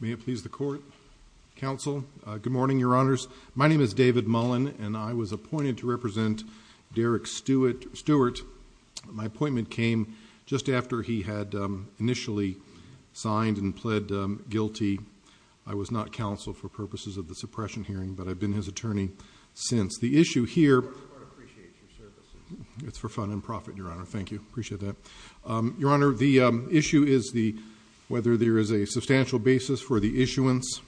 May it please the court, counsel. Good morning, your honors. My name is David Mullen, and I was appointed to represent Derrick Stewart. My appointment came just after he had initially signed and pled guilty. I was not counsel for purposes of the suppression hearing, but I've been his attorney since. The issue here is whether there is a substantial basis for the issuance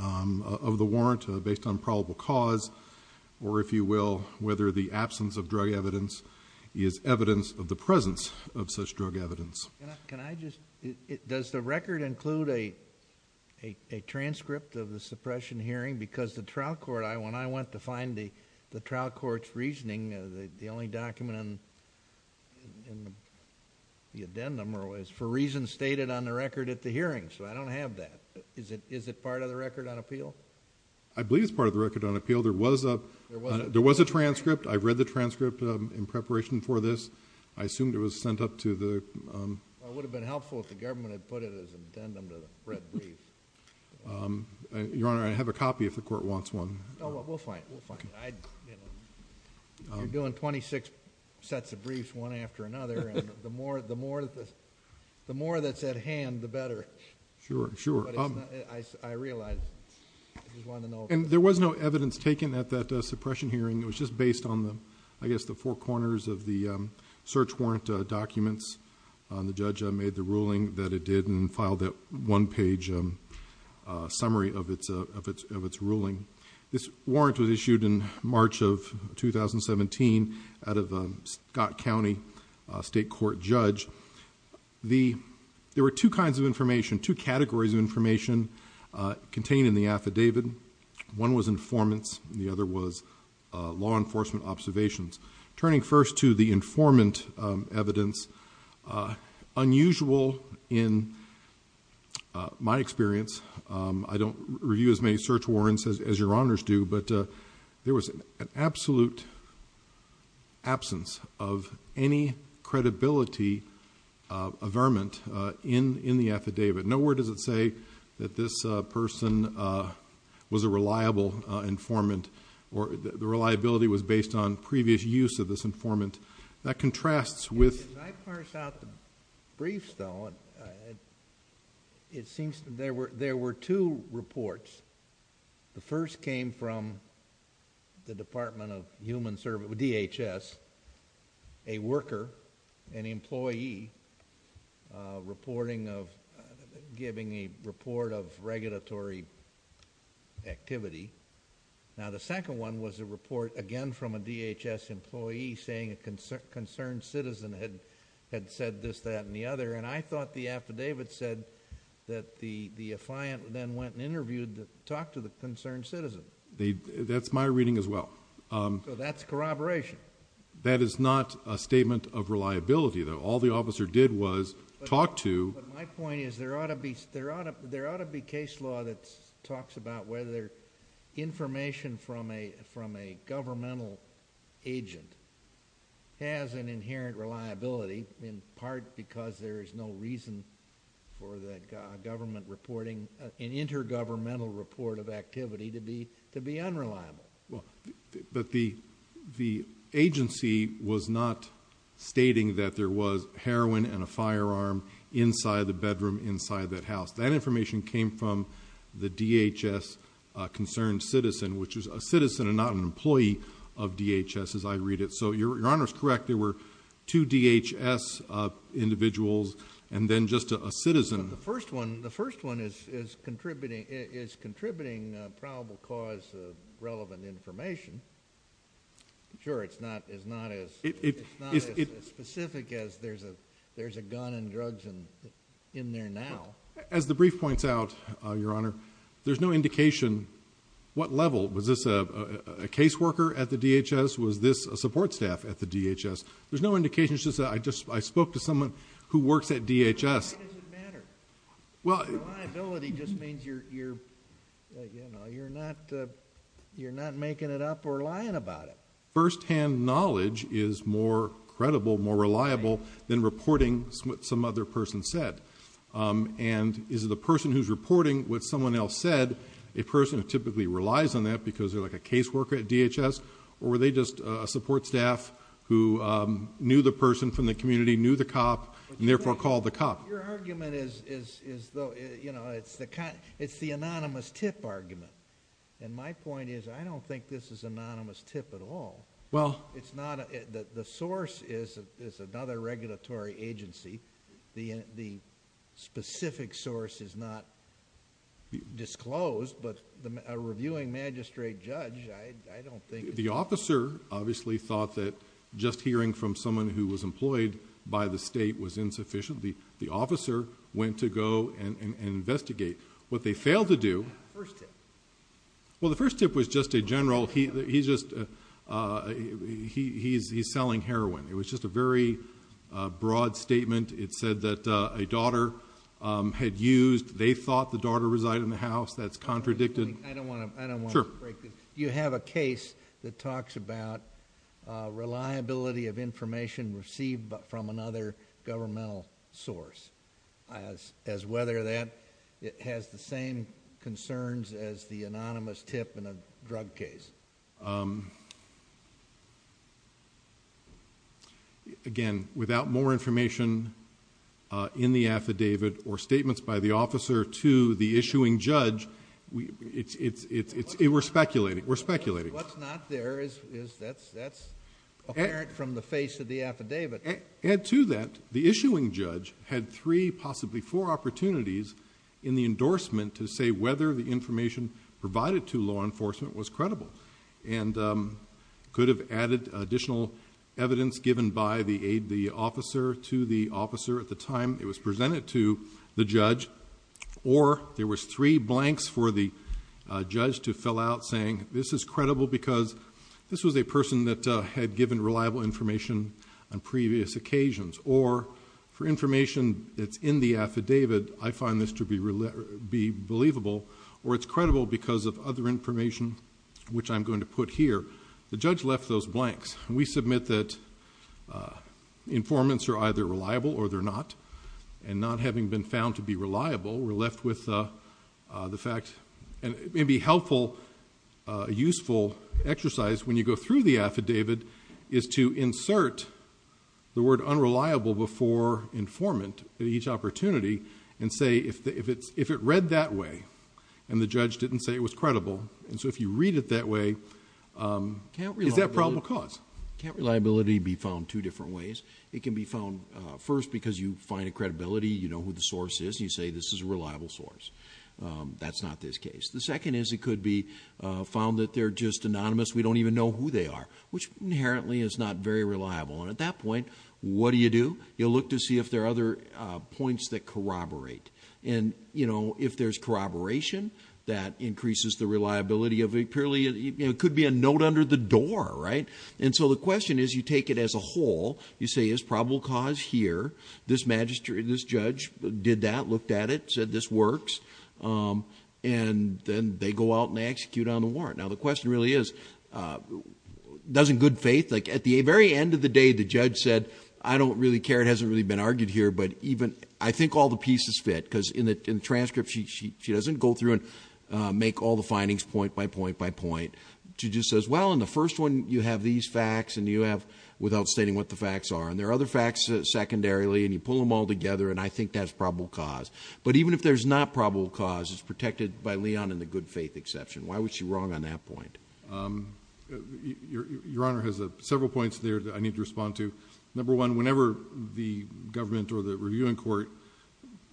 of the warrant based on probable cause, or if you will, whether the absence of drug evidence is evidence of the presence of such drug evidence. Can I just... does the record include a transcript of the suppression hearing? Because the trial court... when I went to find the trial court's reasoning, the only document in the addendum is for reasons stated on the record at the hearing, so I don't have that. Is it part of the record on appeal? I believe it's part of the record on appeal. There was a transcript. I read the transcript in preparation for this. I assumed it was sent up to the... It would have been helpful if the government had put it as an addendum to the red brief. Your honor, I have a copy if the court wants one. Oh, we'll find it. We'll find it. You're doing 26 sets of briefs, one after another, and the more that's at hand, the better. Sure, sure. But it's not... I realize. I just wanted to know. There was no evidence taken at that suppression hearing. It was just based on, I guess, the four corners of the search warrant documents. The judge made the ruling that it did and filed that one-page summary of its ruling. This warrant was issued in March of 2017 out of a Scott County state court judge. There were two kinds of information, two categories of information contained in the affidavit. One was informants, and the other was law enforcement observations. Turning first to the informant evidence, unusual in my experience. I don't review as many search warrants as your honors do, but there was an absolute absence of any credibility of vermin in the affidavit. Nowhere does it say that this person was a reliable informant or the reliability was based on previous use of this informant. That contrasts with... If I parse out the briefs, though, it seems there were two reports. The first came from the Department of Human Services, DHS, a worker, an employee, reporting of... giving a report of regulatory activity. Now, the second one was a report, again, from a DHS employee saying a concerned citizen had said this, that, and the other, and I thought the affidavit said that the affiant then went and interviewed the... talked to the concerned citizen. That's my reading as well. That's corroboration. That is not a statement of reliability, though. All the officer did was talk to... My point is there ought to be case law that talks about whether information from a governmental agent has an inherent reliability, in part because there is no reason for the government reporting an intergovernmental report of activity to be unreliable. But the agency was not stating that there was heroin and a firearm inside the bedroom inside that house. That information came from the DHS concerned citizen, which is a citizen and not an employee of DHS, as I read it. So, Your Honor is correct. There were two DHS individuals and then just a citizen. The first one is contributing probable cause of relevant information. Sure, it's not as specific as there's a gun and drugs in there now. As the brief points out, Your Honor, there's no indication what level. Was this a case worker at the DHS? Was this a support staff at the DHS? There's no indication. It's just that I spoke to someone who works at DHS. Why does it matter? Reliability just means you're not making it up or lying about it. First-hand knowledge is more credible, more reliable than reporting what some other person said. And is it a person who's reporting what someone else said, a person who typically relies on that because they're like a case worker at DHS, or were they just a support staff who knew the person from the community, knew the cop, and therefore called the cop? Your argument is, you know, it's the anonymous tip argument. And my point is, I don't think this is anonymous tip at all. The source is another regulatory agency. The specific source is not disclosed, but a reviewing magistrate judge, I don't think... The officer obviously thought that just hearing from someone who was employed by the state was insufficient. The officer went to go and investigate. What they failed to do... First tip. Well, the first tip was just a general... he's just... he's selling heroin. It was just a very broad statement. It said that a daughter had used... they thought the daughter resided in the house. That's contradicted... I don't want to... Sure. You have a case that talks about reliability of information received from another governmental source, as whether that has the same concerns as the anonymous tip in a drug case. Again, without more information in the affidavit or statements by the officer to the issuing judge, it's... we're speculating. We're speculating. What's not there is... that's apparent from the face of the affidavit. To add to that, the issuing judge had three, possibly four, opportunities in the endorsement to say whether the information provided to law enforcement was credible and could have added additional evidence given by the aid... the officer to the officer at the time it was presented to the judge or there was three blanks for the judge to fill out saying, this is credible because this was a or for information that's in the affidavit, I find this to be believable or it's credible because of other information which I'm going to put here. The judge left those blanks. We submit that informants are either reliable or they're not and not having been found to be reliable, we're left with the fact... and it could be found that they're just anonymous. We don't even know who they are, which you look to see if there are other points that corroborate. If there's corroboration, that increases the reliability of... it could be a note under the door. The question is, you take it as a whole. You say, it's probable cause here. This magistrate, this judge did that, looked at it, said this works and then they go out and they execute on the warrant. Now, the question really is, does in good day, the judge said, I don't really care, it hasn't really been argued here, but even... I think all the pieces fit because in the transcript, she doesn't go through and make all the findings point by point by point. She just says, well, in the first one, you have these facts and you have... without stating what the facts are and there are other facts secondarily and you pull them all together and I think that's probable cause. But even if there's not probable cause, it's protected by Leon and the good faith exception. Why was she wrong on that point? Your Honor has several points there that I need to respond to. Number one, whenever the government or the reviewing court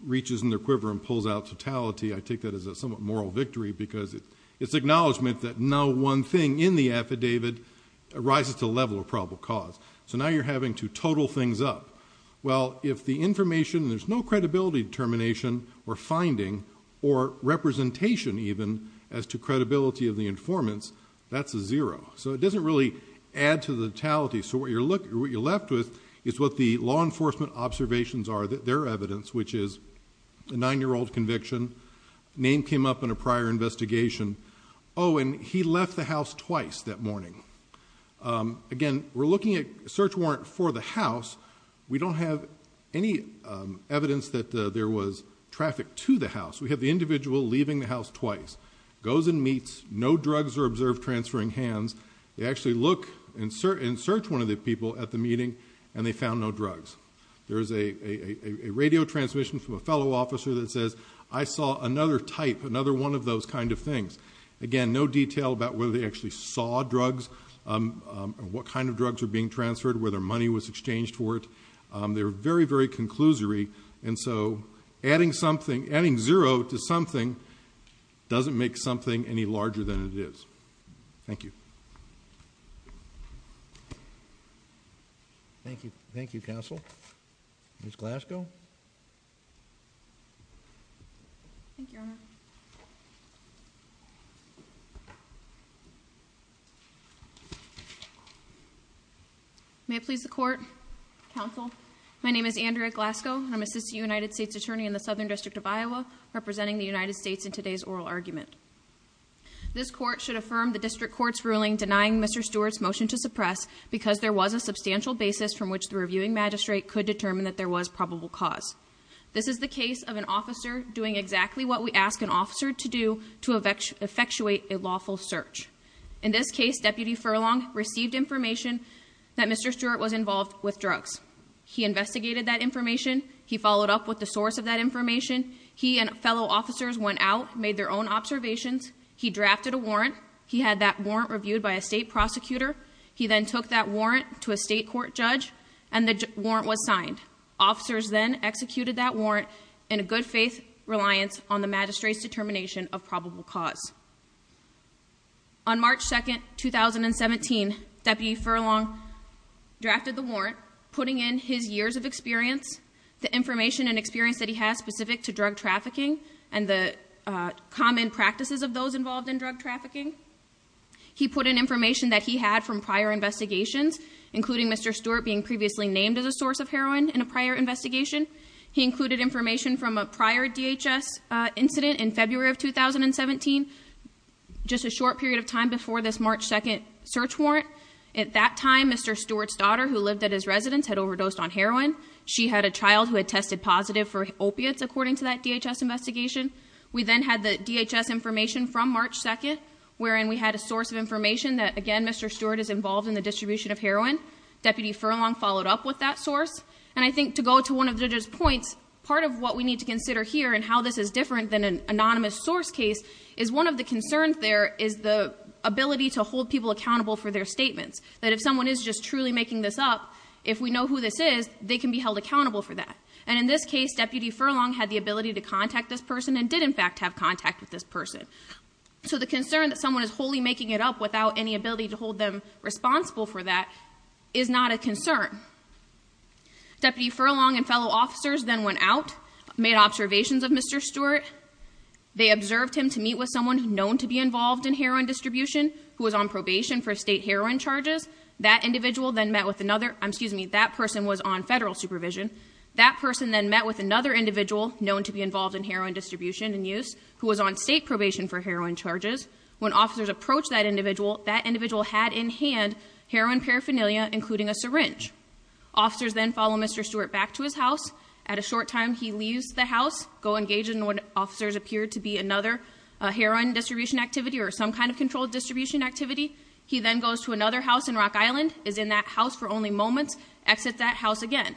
reaches in their quiver and pulls out totality, I take that as a somewhat moral victory because it's acknowledgement that no one thing in the affidavit arises to level of probable cause. So now you're having to total things up. Well, if the information... there's no credibility determination or finding or representation even as to that's a zero. So it doesn't really add to the totality. So what you're left with is what the law enforcement observations are, their evidence, which is a nine-year-old conviction, name came up in a prior investigation. Oh, and he left the house twice that morning. Again, we're looking at search warrant for the house. We don't have any evidence that there was traffic to the house. We have the individual leaving the house twice, goes and meets, no drugs are observed transferring hands. They actually look and search one of the people at the meeting and they found no drugs. There is a radio transmission from a fellow officer that says, I saw another type, another one of those kind of things. Again, no detail about whether they actually saw drugs, what kind of drugs are being transferred, whether money was exchanged for it. They're very, very conclusory. And so adding something, adding zero to something doesn't make something any larger than it is. Thank you. Thank you. Thank you, Counsel. Ms. Glasgow. Thank you, Your Honor. May it please the court. Counsel. My name is Andrea Glasgow. I'm assistant United States attorney in the Southern District of Iowa, representing the United States in today's oral argument. This court should affirm the district court's ruling denying Mr Stewart's motion to suppress because there was a substantial basis from which the reviewing magistrate could determine that there was probable cause. This is the case of an officer doing exactly what we ask an officer to do to effectuate a lawful search. In this case, Deputy Furlong received information that Mr Stewart was involved with drugs. He investigated that information. He followed up with the source of that information. He and fellow officers went out, made their own observations. He drafted a warrant. He had that warrant reviewed by a state prosecutor. He then took that warrant to a state court judge and the warrant was signed. Officers then executed that warrant in a good faith reliance on the magistrate's determination of probable cause. On March 2nd, 2017, Deputy Furlong drafted the warrant, putting in his years of experience, the information and experience that he has specific to drug trafficking, and the common practices of those involved in drug trafficking. He put in information that he had from prior investigations, including Mr Stewart being previously named as a source of heroin in a prior investigation. He just a short period of time before this March 2nd search warrant. At that time, Mr Stewart's daughter, who lived at his residence, had overdosed on heroin. She had a child who had tested positive for opiates. According to that DHS investigation, we then had the DHS information from March 2nd, wherein we had a source of information that again, Mr Stewart is involved in the distribution of heroin. Deputy Furlong followed up with that source, and I think to go to one of the points part of what we need to consider here and how this is different than an anonymous source case, is one of the concerns there is the ability to hold people accountable for their statements. That if someone is just truly making this up, if we know who this is, they can be held accountable for that. And in this case, Deputy Furlong had the ability to contact this person and did in fact have contact with this person. So the concern that someone is wholly making it up without any ability to hold them responsible for that is not a concern. Deputy Furlong and fellow officers then went out, made observations of Mr. Stewart. They observed him to meet with someone known to be involved in heroin distribution, who was on probation for state heroin charges. That individual then met with another, excuse me, that person was on federal supervision. That person then met with another individual known to be involved in heroin distribution and use, who was on state probation for heroin charges. When officers approached that individual, that individual had in hand heroin paraphernalia, including a syringe. Officers then follow Mr. Stewart back to his house. At a short time, he leaves the house, go engage in what officers appear to be another heroin distribution activity or some kind of controlled distribution activity. He then goes to another house in Rock Island, is in that house for only moments, exits that house again.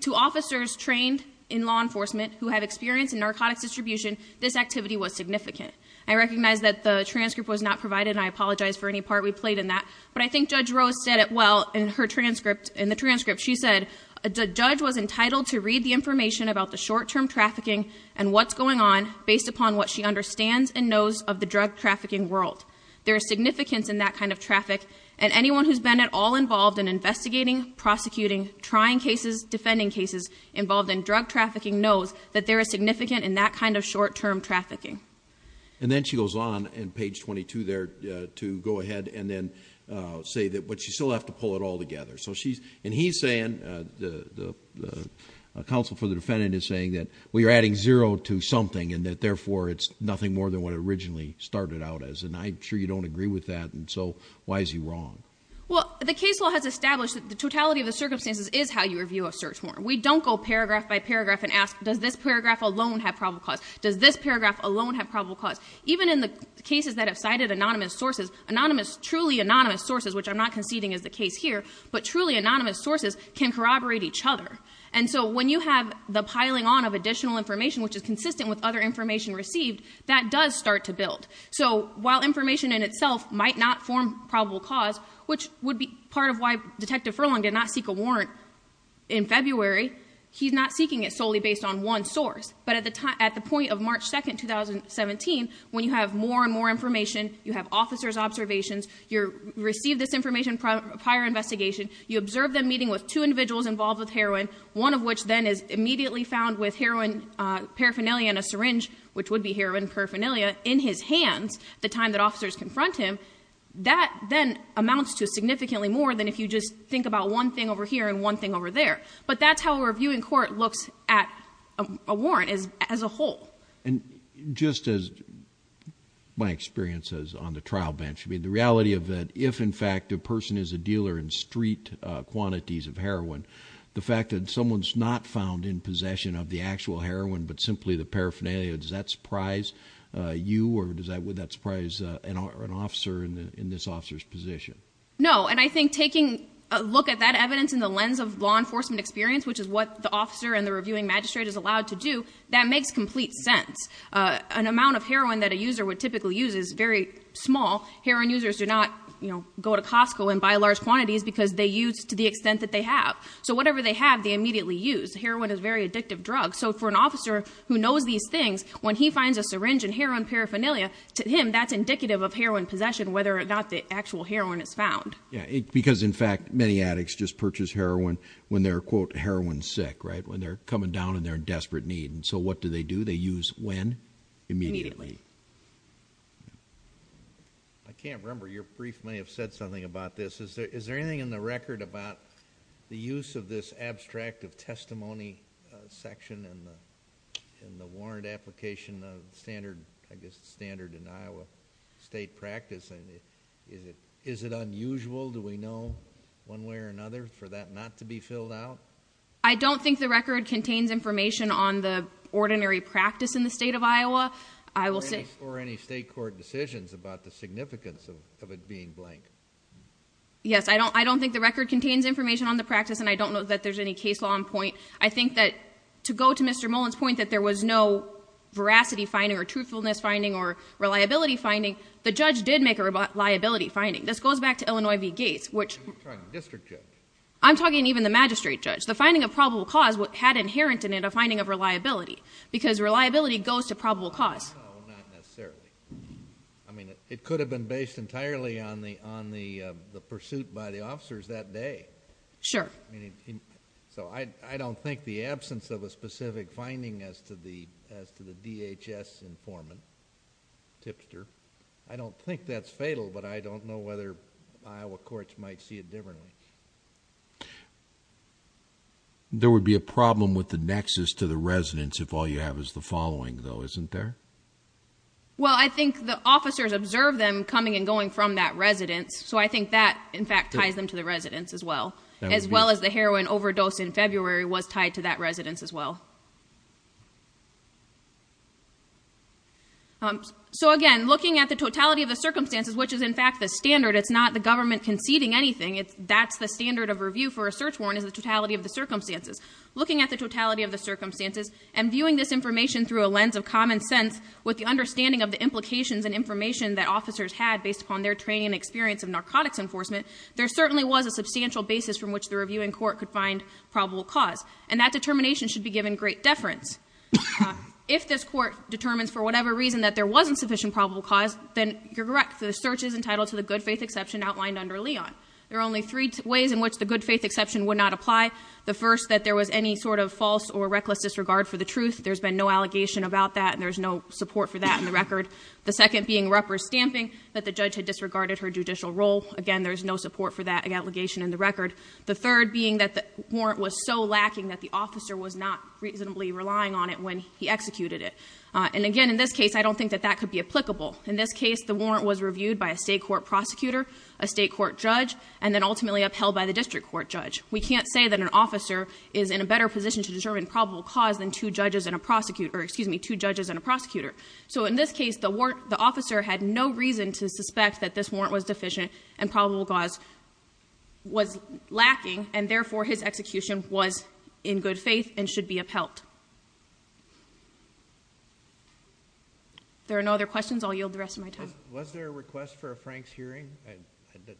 To officers trained in law enforcement who have experience in narcotics distribution, this activity was significant. I recognize that the transcript was not provided and I apologize for any part we played in that, but I think Judge Rose said it well in her transcript. In the transcript, she said, a judge was entitled to read the information about the short-term trafficking and what's going on based upon what she understands and knows of the drug trafficking world. There is significance in that kind of traffic and anyone who's been at all involved in investigating, prosecuting, trying cases, defending cases involved in drug trafficking knows that there is significant in that kind of short-term trafficking. And then she goes on and page 22 there to go ahead and then say that, but you still have to pull it all together. So she's, and he's saying, the counsel for the defendant is saying that we are adding zero to something and that therefore it's nothing more than what it originally started out as. And I'm sure you don't agree with that and so why is he wrong? Well, the case law has established that the totality of the circumstances is how you review a search warrant. We don't go paragraph by paragraph and ask, does this paragraph alone have probable cause? Does this paragraph alone have probable cause? And so when you have the piling on of additional information, which is consistent with other information received, that does start to build. So while information in itself might not form probable cause, which would be part of why Detective Furlong did not seek a warrant in February, he's not seeking it solely based on one source. But at the time, at the point of March 2nd, 2017, when you have more and more information you have officers' observations, you receive this information prior to investigation, you observe them meeting with two individuals involved with heroin, one of which then is immediately found with heroin paraphernalia in a syringe, which would be heroin paraphernalia, in his hands at the time that officers confront him, that then amounts to significantly more than if you just think about one thing over here and one thing over there. But that's how a reviewing court looks at a warrant as a whole. And just as my experience is on the trial bench, I mean the reality of that if in fact a person is a dealer in street quantities of heroin, the fact that someone's not found in possession of the actual heroin but simply the paraphernalia, does that surprise you or does that surprise an officer in this officer's position? No, and I think taking a look at that evidence in the lens of law enforcement experience, which is what the officer and the reviewing magistrate is allowed to do, that makes complete sense. An amount of heroin that a user would typically use is very small. Heroin users do not go to Costco and buy large quantities because they use to the extent that they have. So whatever they have, they immediately use. Heroin is very addictive drug. So for an officer who knows these things, when he finds a syringe in heroin paraphernalia, to him that's indicative of heroin possession whether or not the actual heroin is found. Yeah, because in fact many addicts purchase heroin when they're quote heroin sick, right? When they're coming down and they're in desperate need. And so what do they do? They use when? Immediately. I can't remember, your brief may have said something about this. Is there anything in the record about the use of this abstract of testimony section and in the warrant application of standard, I guess standard in Iowa state practice? Is it unusual? Do we know one way or another for that not to be filled out? I don't think the record contains information on the ordinary practice in the state of Iowa. I will say... Or any state court decisions about the significance of it being blank. Yes, I don't I don't think the record contains information on the practice and I don't know that there's any case law on point. I think that to go to Mr. Mullin's point that there was no veracity finding or truthfulness finding or reliability finding, the judge did make a liability finding. This goes back to Illinois v. Gates, which I'm talking even the magistrate judge. The finding of probable cause had inherent in it a finding of reliability because reliability goes to probable cause. I mean it could have been based entirely on the on the the pursuit by the officers that day. Sure. So I don't think the absence of a specific finding as to the as to the DHS informant, tipster, I don't think that's fatal but I don't know whether Iowa courts might see it differently. There would be a problem with the nexus to the residence if all you have is the following though, isn't there? Well I think the officers observed them coming and going from that residence so I think that in fact ties them to the residence as well. As well as the heroin overdose in February was tied to that residence as well. So again looking at the totality of the circumstances, which is in fact the standard, it's not the government conceding anything, that's the standard of review for a search warrant is the totality of the circumstances. Looking at the totality of the circumstances and viewing this information through a lens of common sense with the understanding of the implications and information that officers had based upon their training and experience of narcotics enforcement, there certainly was a substantial basis from which the reviewing court could find probable cause and that great deference. If this court determines for whatever reason that there wasn't sufficient probable cause, then you're correct. The search is entitled to the good faith exception outlined under Leon. There are only three ways in which the good faith exception would not apply. The first that there was any sort of false or reckless disregard for the truth. There's been no allegation about that and there's no support for that in the record. The second being rupper stamping that the judge had disregarded her judicial role. Again there's no support for that allegation in the record. The third being that the warrant was so lacking that the officer was not reasonably relying on it when he executed it. And again in this case I don't think that that could be applicable. In this case the warrant was reviewed by a state court prosecutor, a state court judge, and then ultimately upheld by the district court judge. We can't say that an officer is in a better position to determine probable cause than two judges and a prosecutor, excuse me, two judges and a prosecutor. So in this case the warrant, the officer had no reason to suspect that this warrant was in good faith and should be upheld. There are no other questions. I'll yield the rest of my time. Was there a request for a Franks hearing?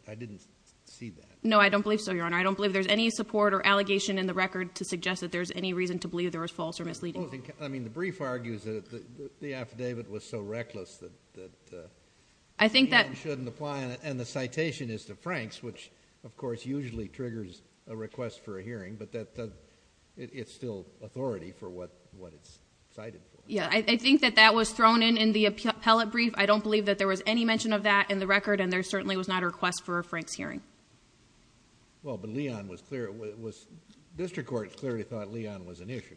I didn't see that. No I don't believe so your honor. I don't believe there's any support or allegation in the record to suggest that there's any reason to believe there was false or misleading. I mean the brief argues that the affidavit was so reckless that I think that shouldn't apply and the citation is to Franks which of course usually triggers a request for a hearing but that it's still authority for what what it's cited. Yeah I think that that was thrown in in the appellate brief. I don't believe that there was any mention of that in the record and there certainly was not a request for a Franks hearing. Well but Leon was clear it was district court clearly thought Leon was an issue.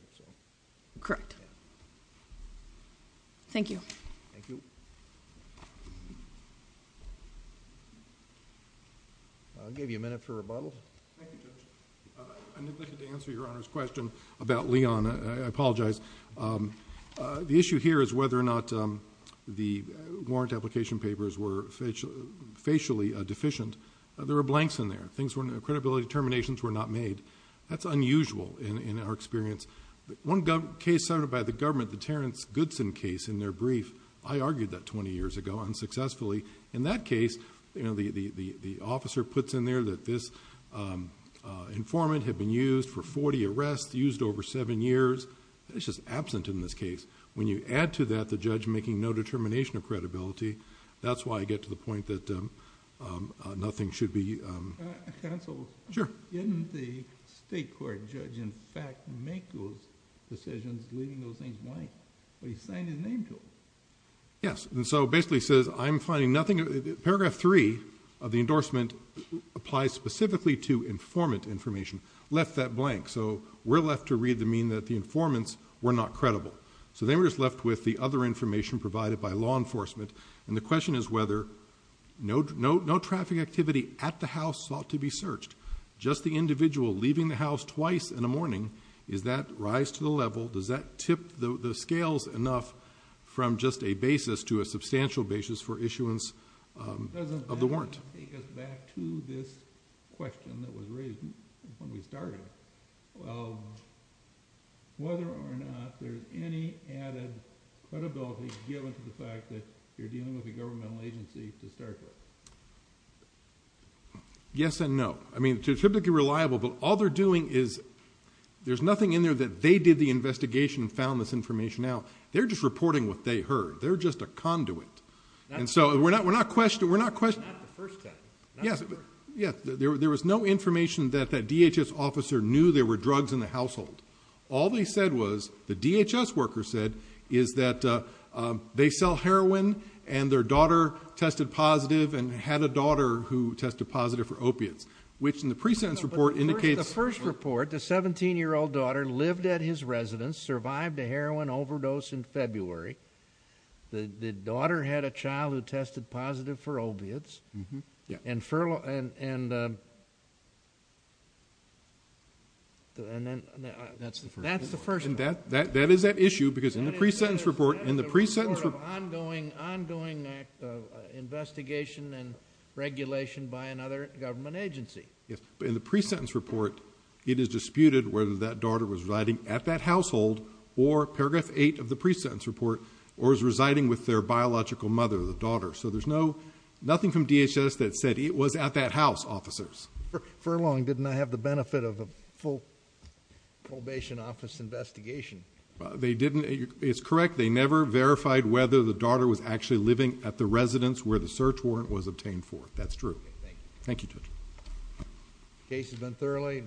Correct. Thank you. I'll give you a minute for rebuttal. I neglected to answer your honor's question about Leon. I apologize. The issue here is whether or not the warrant application papers were facially deficient. There were blanks in there. Credibility determinations were not made. That's unusual in our experience. One case cited by the government, the Terrence Goodson case in their brief, I argued that 20 years ago unsuccessfully. In that case you know the officer puts in there that this informant had been used for 40 arrests, used over seven years. It's just absent in this case. When you add to that the judge making no determination of credibility, that's why I get to the point that nothing should be... Counsel? Sure. Didn't the state court judge in fact make those decisions leaving those things blank? But he signed his name to them. Yes and so basically says I'm three of the endorsement applies specifically to informant information left that blank so we're left to read the mean that the informants were not credible so they were just left with the other information provided by law enforcement and the question is whether no traffic activity at the house sought to be searched just the individual leaving the house twice in a morning is that rise to the level does that tip the scales enough from just a substantial basis for issuance of the warrant yes and no I mean typically reliable but all they're doing is there's nothing in there that they did the investigation found this information out they're just reporting what they heard they're just a conduit and so we're not we're not question we're not question yes yes there was no information that the DHS officer knew there were drugs in the household all they said was the DHS worker said is that they sell heroin and their daughter tested positive and had a daughter who tested positive for opiates which in the precinct report indicates the first report the seventeen-year-old daughter lived at his residence survived a daughter had a child who tested positive for opiates and furlough and and then that's the first that's the first and that that that is that issue because in the pre-sentence report in the pre-sentence ongoing ongoing investigation and regulation by another government agency yes but in the pre-sentence report it is disputed whether that daughter was riding at that household or paragraph eight of the pre-sentence report or is residing with their biological mother the daughter so there's no nothing from DHS that said it was at that house officers furloughing didn't I have the benefit of a full probation office investigation they didn't it's correct they never verified whether the daughter was actually living at the residence where the search warrant was obtained for that's true thank you to the case has been thoroughly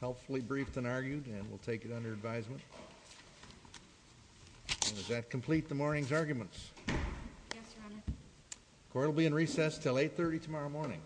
helpfully briefed and argued and we'll take it under advisement does that complete the morning's arguments court will be in recess till 830 tomorrow morning